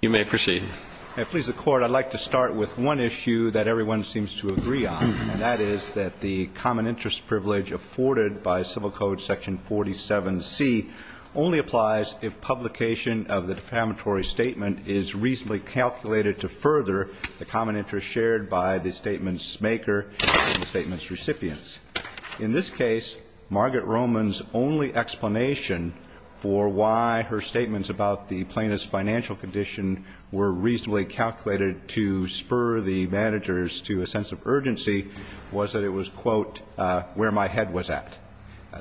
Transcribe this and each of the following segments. You may proceed. And please, the Court, I'd like to start with one issue that everyone seems to agree on. And that is that the common interest privilege afforded by Civil Code Section 47C only applies if publication of the defamatory statement is reasonably calculated to further the common interest shared by the statement's maker and the statement's recipients. In this case, Margaret Roman's only explanation for why her statements about the plaintiff's financial condition were reasonably calculated to spur the managers to a sense of urgency was that it was, quote, where my head was at.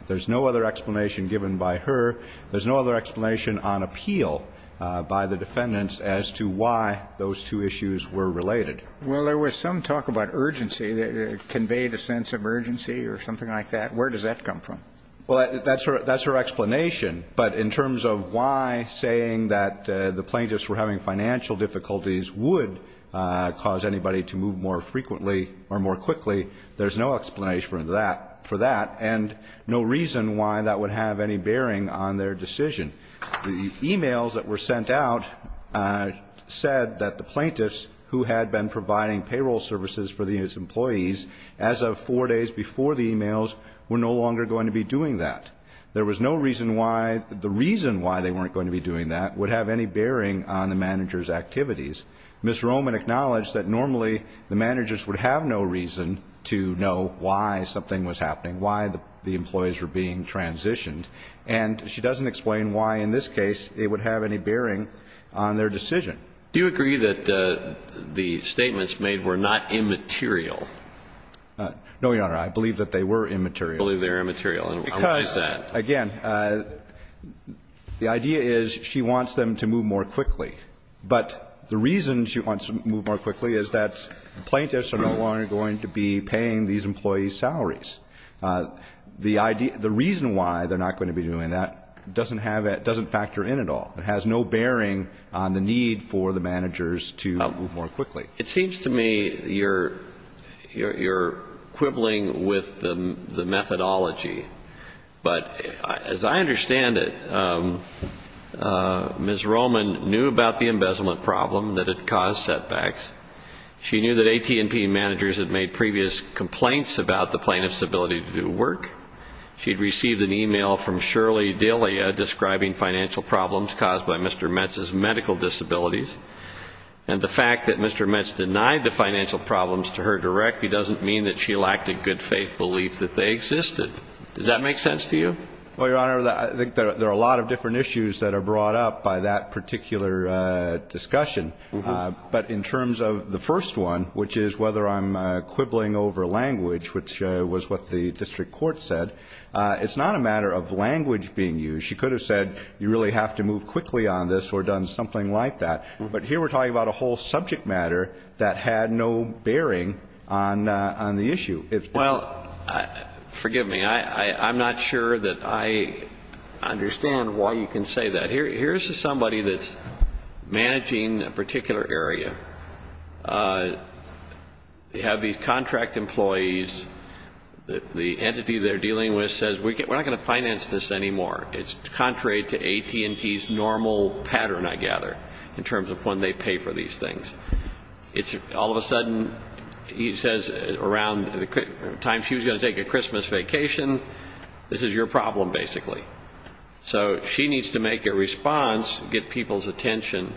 There's no other explanation given by her. There's no other explanation on appeal by the defendants as to why those two issues were related. Well, there was some talk about urgency that conveyed a sense of urgency or something like that. Where does that come from? Well, that's her explanation. But in terms of why saying that the plaintiffs were having financial difficulties would cause anybody to move more frequently or more quickly, there's no explanation for that. And no reason why that would have any bearing on their decision. The e-mails that were sent out said that the plaintiffs who had been providing payroll services for these employees, as of four days before the e-mails, were no longer going to be doing that. There was no reason why the reason why they weren't going to be doing that would have any bearing on the managers' activities. Ms. Roman acknowledged that normally the managers would have no reason to know why something was happening, why the employees were being transitioned. And she doesn't explain why in this case it would have any bearing on their decision. Do you agree that the statements made were not immaterial? No, Your Honor. I believe that they were immaterial. You believe they were immaterial. And why is that? Because, again, the idea is she wants them to move more quickly. But the reason she wants them to move more quickly is that the plaintiffs are no longer going to be paying these employees' salaries. The reason why they're not going to be doing that doesn't factor in at all. It has no bearing on the need for the managers to move more quickly. It seems to me you're quibbling with the methodology. But as I understand it, Ms. Roman knew about the embezzlement problem, that it caused setbacks. She knew that AT&T managers had made previous complaints about the plaintiffs' ability to do work. She had received an email from Shirley Dillia describing financial problems caused by Mr. Metz's medical disabilities. And the fact that Mr. Metz denied the financial problems to her directly doesn't mean that she lacked a good-faith belief that they existed. Does that make sense to you? Well, Your Honor, I think there are a lot of different issues that are brought up by that particular discussion. But in terms of the first one, which is whether I'm quibbling over language, which was what the district court said, it's not a matter of language being used. She could have said you really have to move quickly on this or done something like that. But here we're talking about a whole subject matter that had no bearing on the issue. Well, forgive me. I'm not sure that I understand why you can say that. Here's somebody that's managing a particular area. They have these contract employees. The entity they're dealing with says we're not going to finance this anymore. It's contrary to AT&T's normal pattern, I gather, in terms of when they pay for these things. All of a sudden, he says around the time she was going to take a Christmas vacation, this is your problem, basically. So she needs to make a response, get people's attention.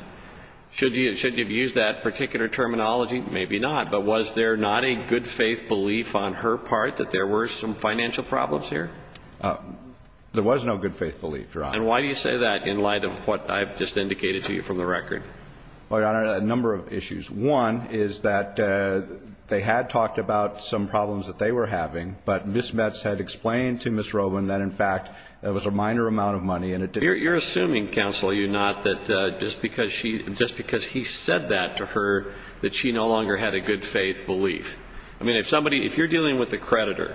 Should you have used that particular terminology? Maybe not. But was there not a good faith belief on her part that there were some financial problems here? There was no good faith belief, Your Honor. And why do you say that in light of what I've just indicated to you from the record? Well, Your Honor, a number of issues. One is that they had talked about some problems that they were having, but Ms. Metz had explained to Ms. Robin that, in fact, there was a minor amount of money. You're assuming, counsel, are you not, that just because he said that to her, that she no longer had a good faith belief? I mean, if you're dealing with a creditor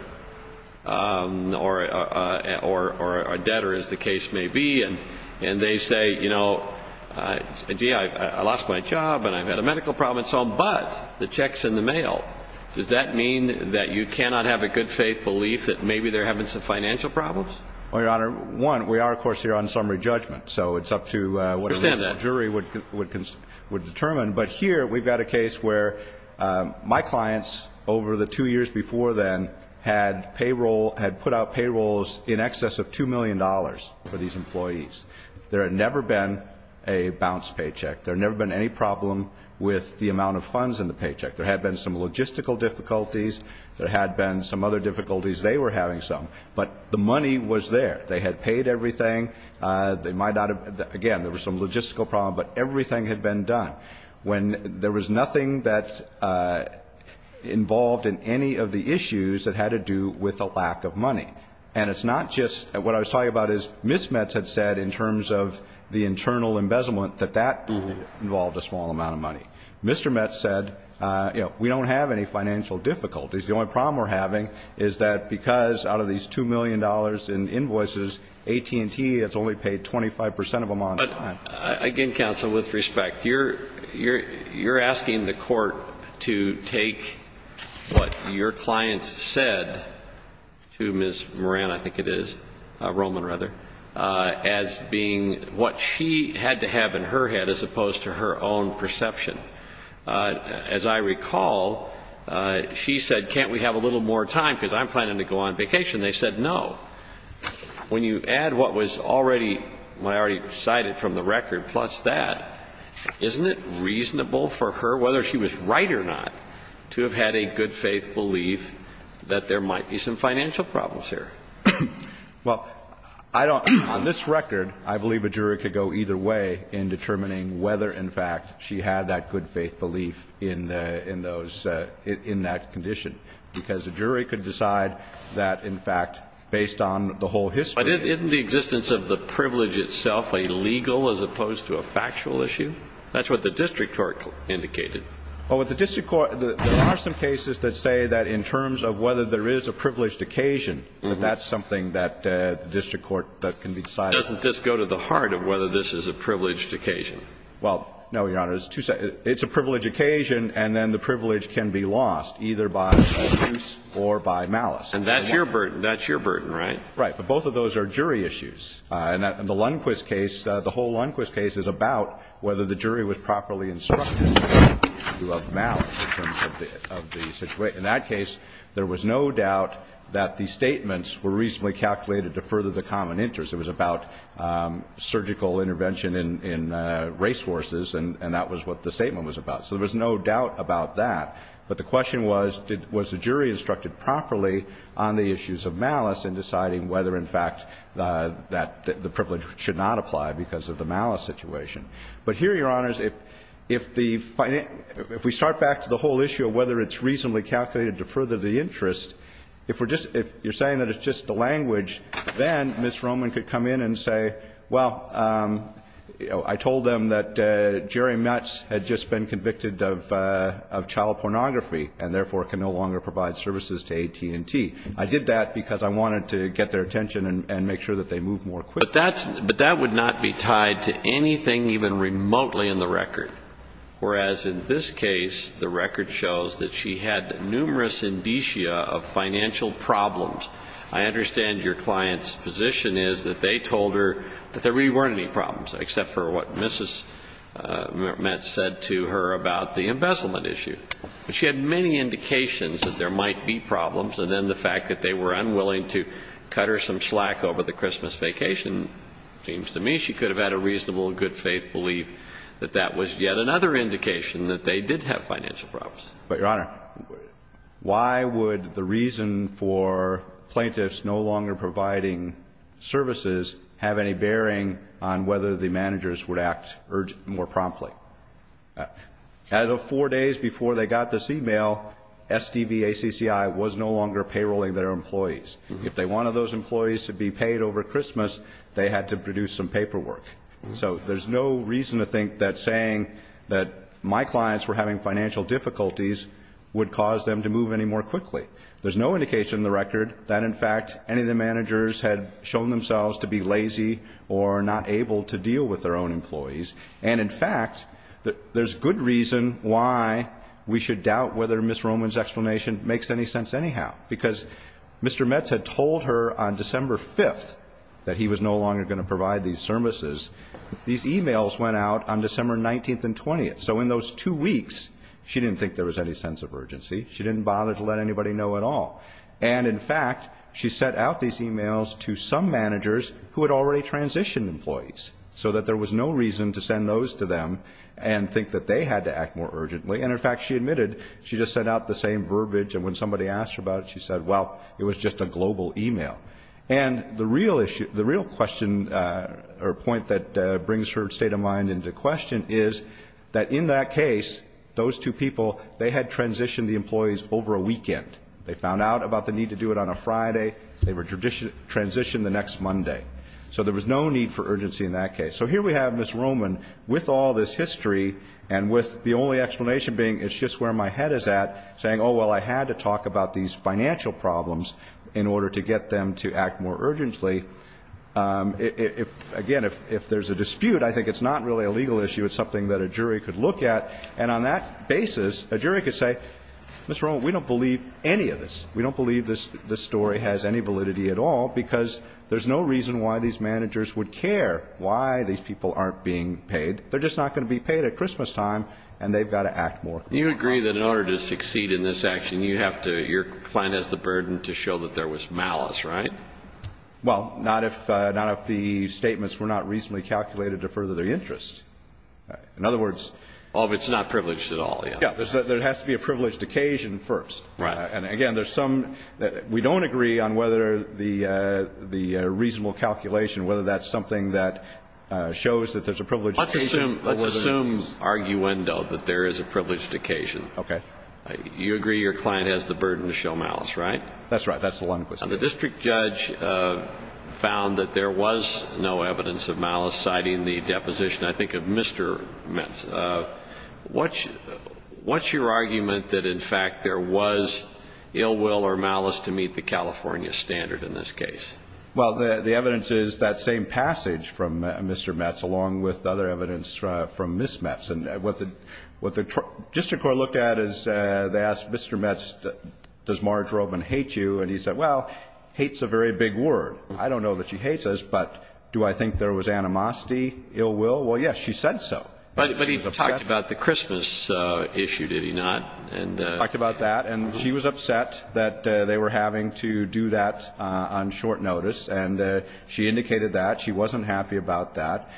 or a debtor, as the case may be, and they say, you know, gee, I lost my job and I've had a medical problem and so on, but the check's in the mail, does that mean that you cannot have a good faith belief that maybe they're having some financial problems? Well, Your Honor, one, we are, of course, here on summary judgment, so it's up to what a reasonable jury would determine. But here we've got a case where my clients, over the two years before then, had put out payrolls in excess of $2 million for these employees. There had never been a bounced paycheck. There had never been any problem with the amount of funds in the paycheck. There had been some logistical difficulties. There had been some other difficulties. They were having some. But the money was there. They had paid everything. They might not have been, again, there was some logistical problem, but everything had been done when there was nothing that involved in any of the issues that had to do with a lack of money. And it's not just, what I was talking about is Ms. Metz had said in terms of the internal embezzlement that that involved a small amount of money. Mr. Metz said, you know, we don't have any financial difficulties. The only problem we're having is that because out of these $2 million in invoices, AT&T has only paid 25 percent of them on time. But, again, counsel, with respect, you're asking the court to take what your client said to Ms. Moran, I think it is, Roman, rather, as being what she had to have in her own perception. As I recall, she said, can't we have a little more time because I'm planning to go on vacation. They said no. When you add what was already cited from the record plus that, isn't it reasonable for her, whether she was right or not, to have had a good faith belief that there might be some financial problems here? Well, I don't, on this record, I believe a jury could go either way in determining whether, in fact, she had that good faith belief in the, in those, in that condition because a jury could decide that, in fact, based on the whole history. But isn't the existence of the privilege itself a legal as opposed to a factual issue? That's what the district court indicated. Well, with the district court, there are some cases that say that in terms of whether there is a privileged occasion, that that's something that the district court can decide. Doesn't this go to the heart of whether this is a privileged occasion? Well, no, Your Honor. It's a privileged occasion and then the privilege can be lost either by abuse or by malice. And that's your burden. That's your burden, right? Right. But both of those are jury issues. And the Lundquist case, the whole Lundquist case, is about whether the jury was properly instructed in terms of the situation. In that case, there was no doubt that the statements were reasonably calculated to further the common interest. It was about surgical intervention in, in racehorses, and that was what the statement was about. So there was no doubt about that. But the question was, did, was the jury instructed properly on the issues of malice in deciding whether, in fact, that the privilege should not apply because of the malice situation. But here, Your Honors, if, if the, if we start back to the whole issue of whether it's reasonably calculated to further the interest, if we're just, if you're saying that it's just the language, then Ms. Roman could come in and say, well, I told them that Jerry Metz had just been convicted of, of child pornography and therefore can no longer provide services to AT&T. I did that because I wanted to get their attention and, and make sure that they move more quickly. But that's, but that would not be tied to anything even remotely in the record, whereas in this case, the record shows that she had numerous indicia of financial problems. I understand your client's position is that they told her that there really weren't any problems, except for what Mrs. Metz said to her about the embezzlement issue. But she had many indications that there might be problems, and then the fact that they were unwilling to cut her some slack over the Christmas vacation seems to me she could have had a reasonable and good faith belief that that was yet another indication that they did have financial problems. But, Your Honor, why would the reason for plaintiffs no longer providing services have any bearing on whether the managers would act more promptly? Out of the four days before they got this e-mail, SDVACCI was no longer payrolling their employees. If they wanted those employees to be paid over Christmas, they had to produce some paperwork. So there's no reason to think that saying that my clients were having financial difficulties would cause them to move any more quickly. There's no indication in the record that, in fact, any of the managers had shown themselves to be lazy or not able to deal with their own employees. And, in fact, there's good reason why we should doubt whether Ms. Roman's explanation makes any sense anyhow, because Mr. Metz had told her on December 5th that he was no longer going to provide these services. These e-mails went out on December 19th and 20th. So in those two weeks, she didn't think there was any sense of urgency. She didn't bother to let anybody know at all. And, in fact, she sent out these e-mails to some managers who had already transitioned employees so that there was no reason to send those to them and think that they had to act more urgently. And, in fact, she admitted she just sent out the same verbiage, and when somebody And the real issue, the real question or point that brings her state of mind into question is that, in that case, those two people, they had transitioned the employees over a weekend. They found out about the need to do it on a Friday. They were transitioned the next Monday. So there was no need for urgency in that case. So here we have Ms. Roman with all this history and with the only explanation being it's just where my head is at, saying, oh, well, I had to talk about these and to act more urgently. Again, if there's a dispute, I think it's not really a legal issue. It's something that a jury could look at. And on that basis, a jury could say, Ms. Roman, we don't believe any of this. We don't believe this story has any validity at all because there's no reason why these managers would care why these people aren't being paid. They're just not going to be paid at Christmastime, and they've got to act more. You agree that in order to succeed in this action, you have to – your client has the burden to show that there was malice, right? Well, not if – not if the statements were not reasonably calculated to further their interest. In other words – Well, if it's not privileged at all, yeah. Yeah. There has to be a privileged occasion first. Right. And, again, there's some – we don't agree on whether the reasonable calculation, whether that's something that shows that there's a privileged occasion or whether Let's assume – let's assume arguendo that there is a privileged occasion. Okay. You agree your client has the burden to show malice, right? That's right. That's the one question. And the district judge found that there was no evidence of malice, citing the deposition, I think, of Mr. Metz. What's your argument that, in fact, there was ill will or malice to meet the California standard in this case? Well, the evidence is that same passage from Mr. Metz along with other evidence from Ms. Metz. And what the district court looked at is they asked Mr. Metz, does Marge Robin hate you? And he said, well, hate's a very big word. I don't know that she hates us, but do I think there was animosity, ill will? Well, yes, she said so. But he talked about the Christmas issue, did he not? He talked about that. And she was upset that they were having to do that on short notice. And she indicated that. She wasn't happy about that.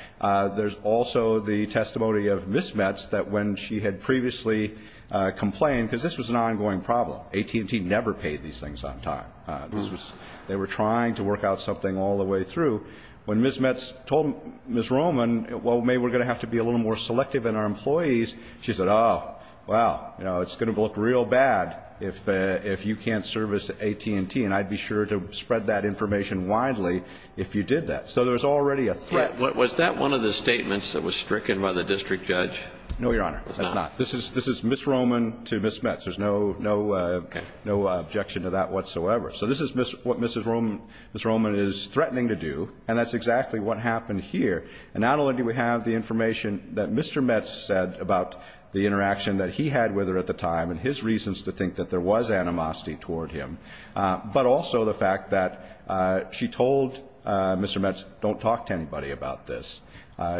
There's also the testimony of Ms. Metz that when she had previously complained because this was an ongoing problem. AT&T never paid these things on time. They were trying to work out something all the way through. When Ms. Metz told Ms. Robin, well, maybe we're going to have to be a little more selective in our employees, she said, oh, well, it's going to look real bad if you can't service AT&T, and I'd be sure to spread that information widely if you did that. So there was already a threat. Was that one of the statements that was stricken by the district judge? No, Your Honor, that's not. This is Ms. Robin to Ms. Metz. There's no objection to that whatsoever. So this is what Ms. Robin is threatening to do, and that's exactly what happened here. And not only do we have the information that Mr. Metz said about the interaction that he had with her at the time and his reasons to think that there was animosity toward him, but also the fact that she told Mr. Metz, don't talk to anybody about this.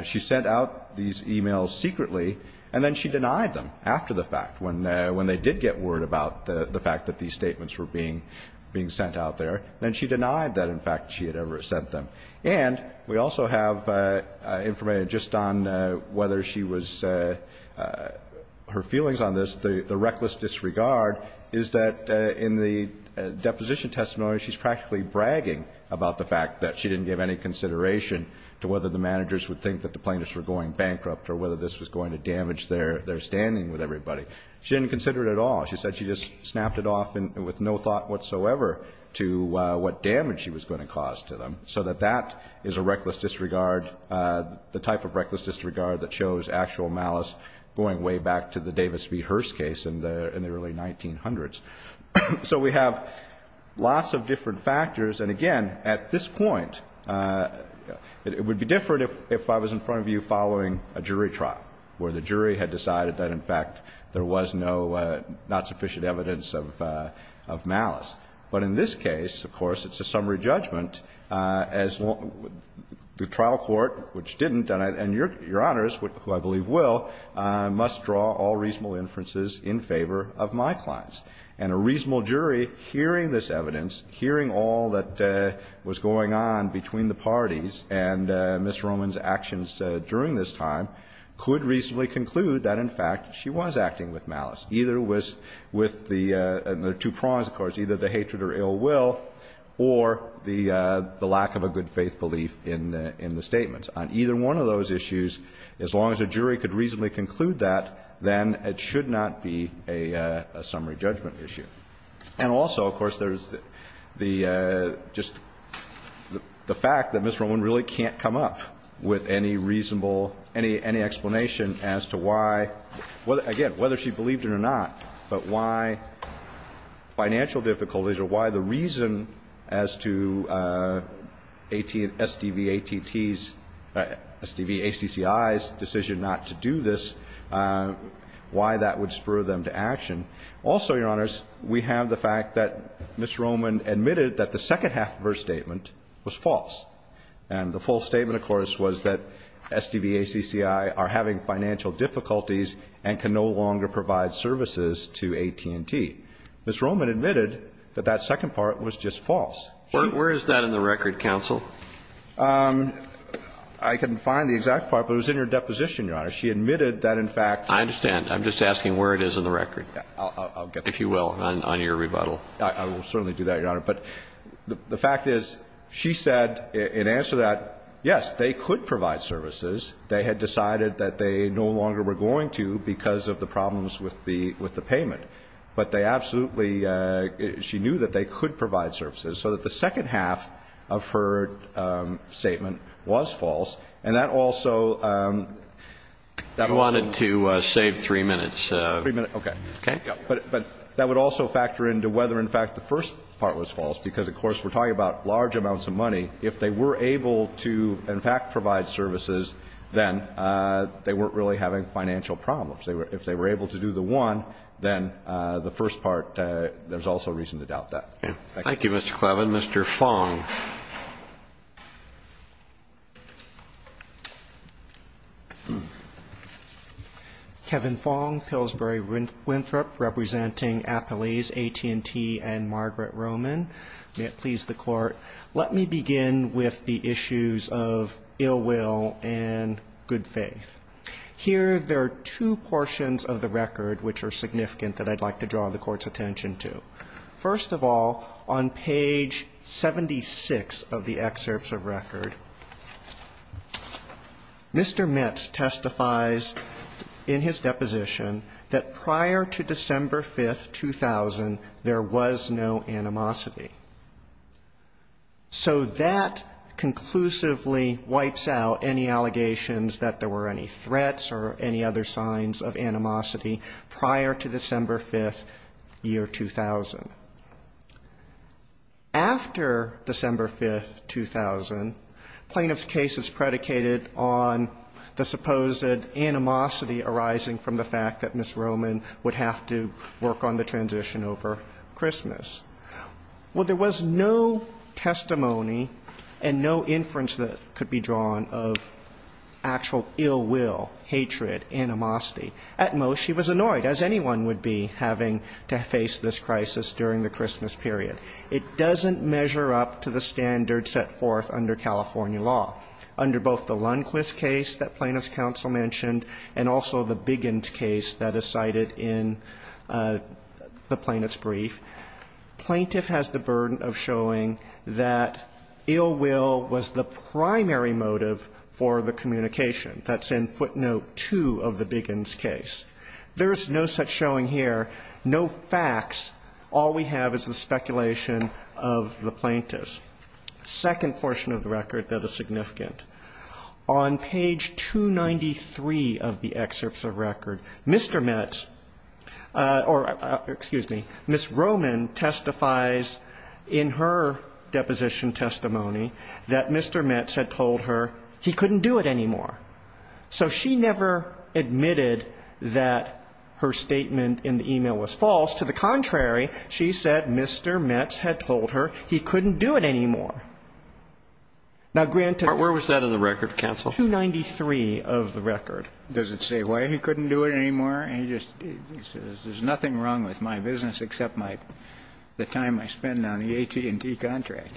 She sent out these e-mails secretly, and then she denied them after the fact, when they did get word about the fact that these statements were being sent out there. Then she denied that, in fact, she had ever sent them. And we also have information just on whether she was her feelings on this, that the reckless disregard is that in the deposition testimony, she's practically bragging about the fact that she didn't give any consideration to whether the managers would think that the plaintiffs were going bankrupt or whether this was going to damage their standing with everybody. She didn't consider it at all. She said she just snapped it off with no thought whatsoever to what damage she was going to cause to them. So that that is a reckless disregard, the type of reckless disregard that shows actual malice going way back to the Davis v. Hearst case in the early 1900s. So we have lots of different factors. And, again, at this point, it would be different if I was in front of you following a jury trial, where the jury had decided that, in fact, there was not sufficient evidence of malice. But in this case, of course, it's a summary judgment, as the trial court, which didn't, and Your Honors, who I believe will, must draw all reasonable inferences in favor of my clients. And a reasonable jury, hearing this evidence, hearing all that was going on between the parties and Ms. Roman's actions during this time, could reasonably conclude that, in fact, she was acting with malice. Either it was with the two prongs, of course, either the hatred or ill will, or the lack of a good-faith belief in the statements. On either one of those issues, as long as a jury could reasonably conclude that, then it should not be a summary judgment issue. And also, of course, there's the just the fact that Ms. Roman really can't come up with any reasonable, any explanation as to why, again, whether she believed it or not, but why financial difficulties or why the reason as to SDVATTs, SDVACCIs' decision not to do this, why that would spur them to action. Also, Your Honors, we have the fact that Ms. Roman admitted that the second half of her statement was false. And the full statement, of course, was that SDVACCI are having financial difficulties and can no longer provide services to AT&T. Ms. Roman admitted that that second part was just false. She was not in the record, counsel. I couldn't find the exact part, but it was in your deposition, Your Honor. She admitted that, in fact the fact is she said it was false. I understand. I'm just asking where it is in the record, if you will, on your rebuttal. I will certainly do that, Your Honor. But the fact is she said in answer to that, yes, they could provide services. They had decided that they no longer were going to because of the problems with the payment. But they absolutely – she knew that they could provide services. So that the second half of her statement was false. And that also – that also – You wanted to save three minutes. Three minutes, okay. Okay. But that would also factor into whether, in fact, the first part was false because, of course, we're talking about large amounts of money. If they were able to, in fact, provide services, then they weren't really having financial problems. If they were able to do the one, then the first part, there's also reason to doubt that. Thank you. Thank you, Mr. Clevin. Mr. Fong. Kevin Fong, Pillsbury Winthrop, representing Applease, AT&T, and Margaret Roman. May it please the Court, let me begin with the issues of ill will and good faith. Here, there are two portions of the record which are significant that I'd like to draw the Court's attention to. First of all, on page 76 of the excerpts of record, Mr. Metz testifies in his deposition that prior to December 5, 2000, there was no animosity. So that conclusively wipes out any allegations that there were any threats or any other signs of animosity prior to December 5, year 2000. After December 5, 2000, plaintiff's case is predicated on the supposed animosity arising from the fact that Ms. Roman would have to work on the transition over Christmas. Well, there was no testimony and no inference that could be drawn of actual ill will, hatred, animosity. At most, she was annoyed, as anyone would be having to face this crisis during the Christmas period. It doesn't measure up to the standards set forth under California law. Under both the Lundquist case that plaintiff's counsel mentioned and also the Biggins case that is cited in the plaintiff's brief, plaintiff has the burden of showing that ill will was the primary motive for the communication. That's in footnote 2 of the Biggins case. There is no such showing here, no facts. All we have is the speculation of the plaintiffs. Second portion of the record that is significant. On page 293 of the excerpts of record, Mr. Metz, or excuse me, Ms. Roman testifies in her deposition testimony that Mr. Metz had told her he couldn't do it anymore. So she never admitted that her statement in the e-mail was false. To the contrary, she said Mr. Metz had told her he couldn't do it anymore. Now, granted that's 293 of the record. Does it say why he couldn't do it anymore? He just says there's nothing wrong with my business except my the time I spend on the AT&T contract.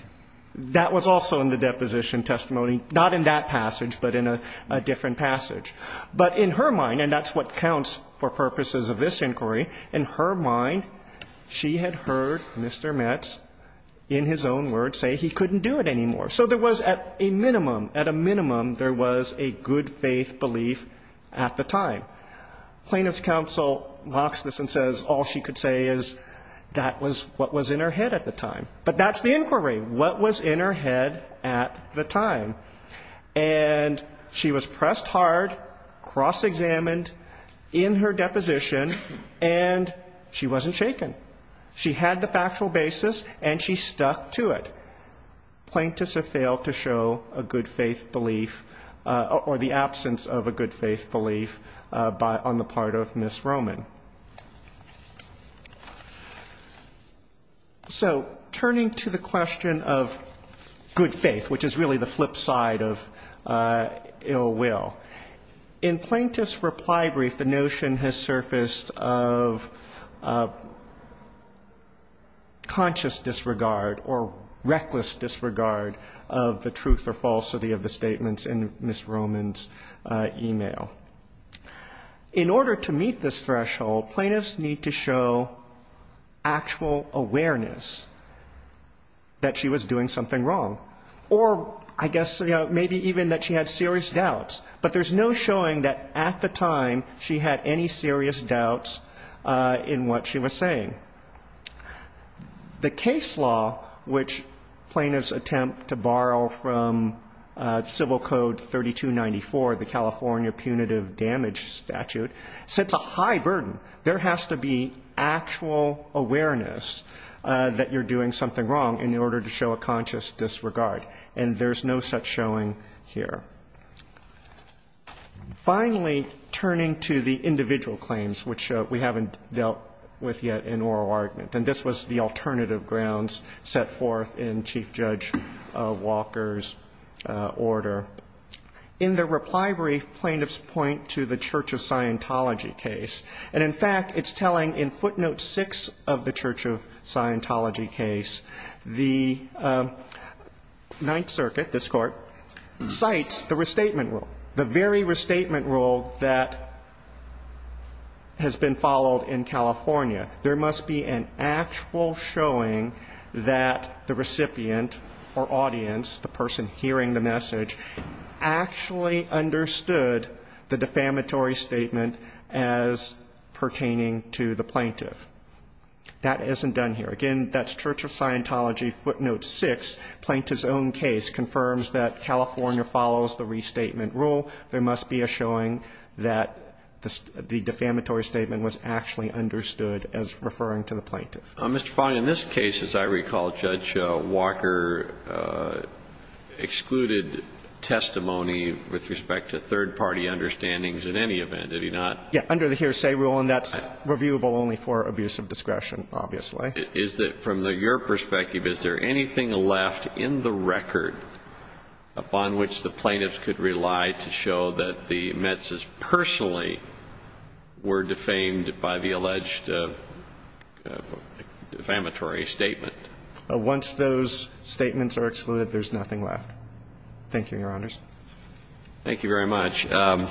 That was also in the deposition testimony, not in that passage, but in a different passage. But in her mind, and that's what counts for purposes of this inquiry, in her mind, she had heard Mr. Metz in his own words say he couldn't do it anymore. So there was at a minimum, at a minimum, there was a good faith belief at the time. Plaintiff's counsel locks this and says all she could say is that was what was in her head at the time. But that's the inquiry. What was in her head at the time? And she was pressed hard, cross-examined in her deposition, and she wasn't shaken. She had the factual basis, and she stuck to it. Plaintiffs have failed to show a good faith belief or the absence of a good faith belief on the part of Ms. Roman. So turning to the question of good faith, which is really the flip side of ill will, in Plaintiff's reply brief, the notion has surfaced of conscious disregard or reckless disregard of the truth or falsity of the statements in Ms. Roman's e-mail. In order to meet this threshold, plaintiffs need to show actual awareness that she was doing something wrong, or I guess, you know, maybe even that she had serious doubts. But there's no showing that at the time she had any serious doubts in what she was saying. The case law, which plaintiffs attempt to borrow from Civil Code 3294, the California Punitive Damage Statute, sets a high burden. There has to be actual awareness that you're doing something wrong in order to show a conscious disregard, and there's no such showing here. Finally, turning to the individual claims, which we haven't dealt with yet in oral argument, and this was the alternative grounds set forth in Chief Judge Walker's order, in the reply brief, plaintiffs point to the Church of Scientology case. And, in fact, it's telling in footnote 6 of the Church of Scientology case, the Ninth Amendment, the restatement rule, the very restatement rule that has been followed in California, there must be an actual showing that the recipient or audience, the person hearing the message, actually understood the defamatory statement as pertaining to the plaintiff. That isn't done here. Again, that's Church of Scientology footnote 6. Plaintiff's own case confirms that California follows the restatement rule. There must be a showing that the defamatory statement was actually understood as referring to the plaintiff. Mr. Fong, in this case, as I recall, Judge Walker excluded testimony with respect to third-party understandings in any event, did he not? Yeah, under the hearsay rule, and that's reviewable only for abuse of discretion, obviously. Is it, from your perspective, is there anything left in the record upon which the plaintiffs could rely to show that the Mets' personally were defamed by the alleged defamatory statement? Once those statements are excluded, there's nothing left. Thank you, Your Honors. Thank you very much. Mr.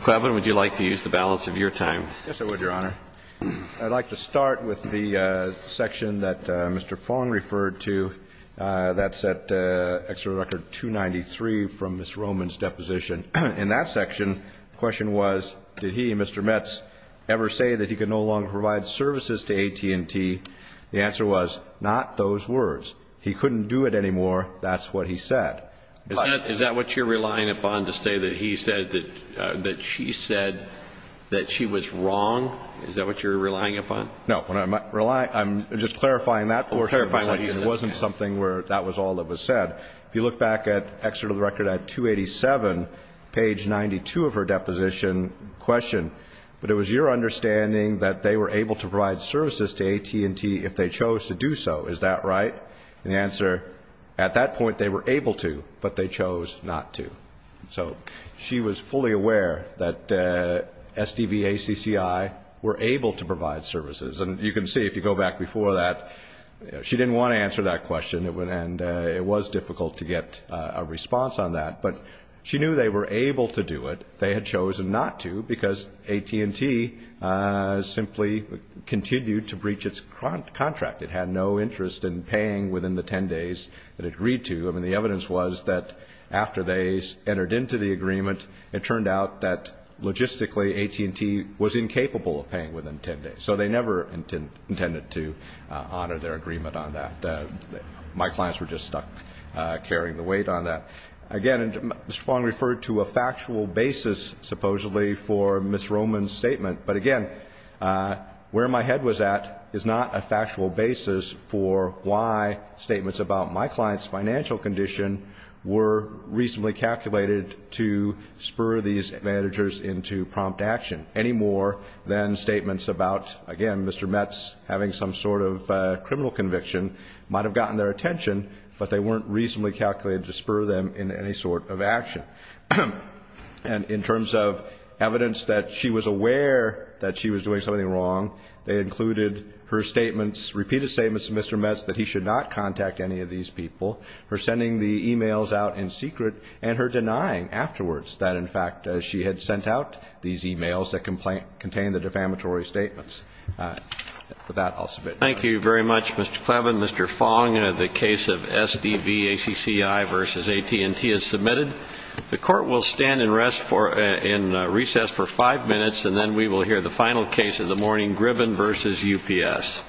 Cleveland, would you like to use the balance of your time? Yes, I would, Your Honor. I'd like to start with the section that Mr. Fong referred to that's at Extra Record 293 from Ms. Roman's deposition. In that section, the question was, did he, Mr. Mets, ever say that he could no longer provide services to AT&T? The answer was, not those words. He couldn't do it anymore. That's what he said. Is that what you're relying upon, to say that he said that she said that she was wrong? Is that what you're relying upon? No. I'm just clarifying that question. It wasn't something where that was all that was said. If you look back at Extra Record at 287, page 92 of her deposition, question, but it was your understanding that they were able to provide services to AT&T if they chose to do so. Is that right? And the answer, at that point, they were able to, but they chose not to. So she was fully aware that SDVACCI were able to provide services. And you can see, if you go back before that, she didn't want to answer that question, and it was difficult to get a response on that. But she knew they were able to do it. They had chosen not to because AT&T simply continued to breach its contract. It had no interest in paying within the 10 days that it agreed to. I mean, the evidence was that after they entered into the agreement, it turned out that, logistically, AT&T was incapable of paying within 10 days. So they never intended to honor their agreement on that. My clients were just stuck carrying the weight on that. Again, Mr. Fong referred to a factual basis, supposedly, for Ms. Roman's statement. But, again, where my head was at is not a factual basis for why statements about my client's financial condition were reasonably calculated to spur these managers into prompt action, any more than statements about, again, Mr. Metz having some sort of criminal conviction might have gotten their attention, but they weren't reasonably calculated to spur them in any sort of action. And in terms of evidence that she was aware that she was doing something wrong, they included her statements, repeated statements to Mr. Metz that he should not contact any of these people, her sending the e-mails out in secret, and her denying afterwards that, in fact, she had sent out these e-mails that contained the defamatory statements. With that, I'll submit. Thank you very much, Mr. Clevin. Mr. Fong, the case of SDVACCI v. AT&T is submitted. The court will stand and rest in recess for five minutes, and then we will hear the final case of the morning, Gribben v. UPS.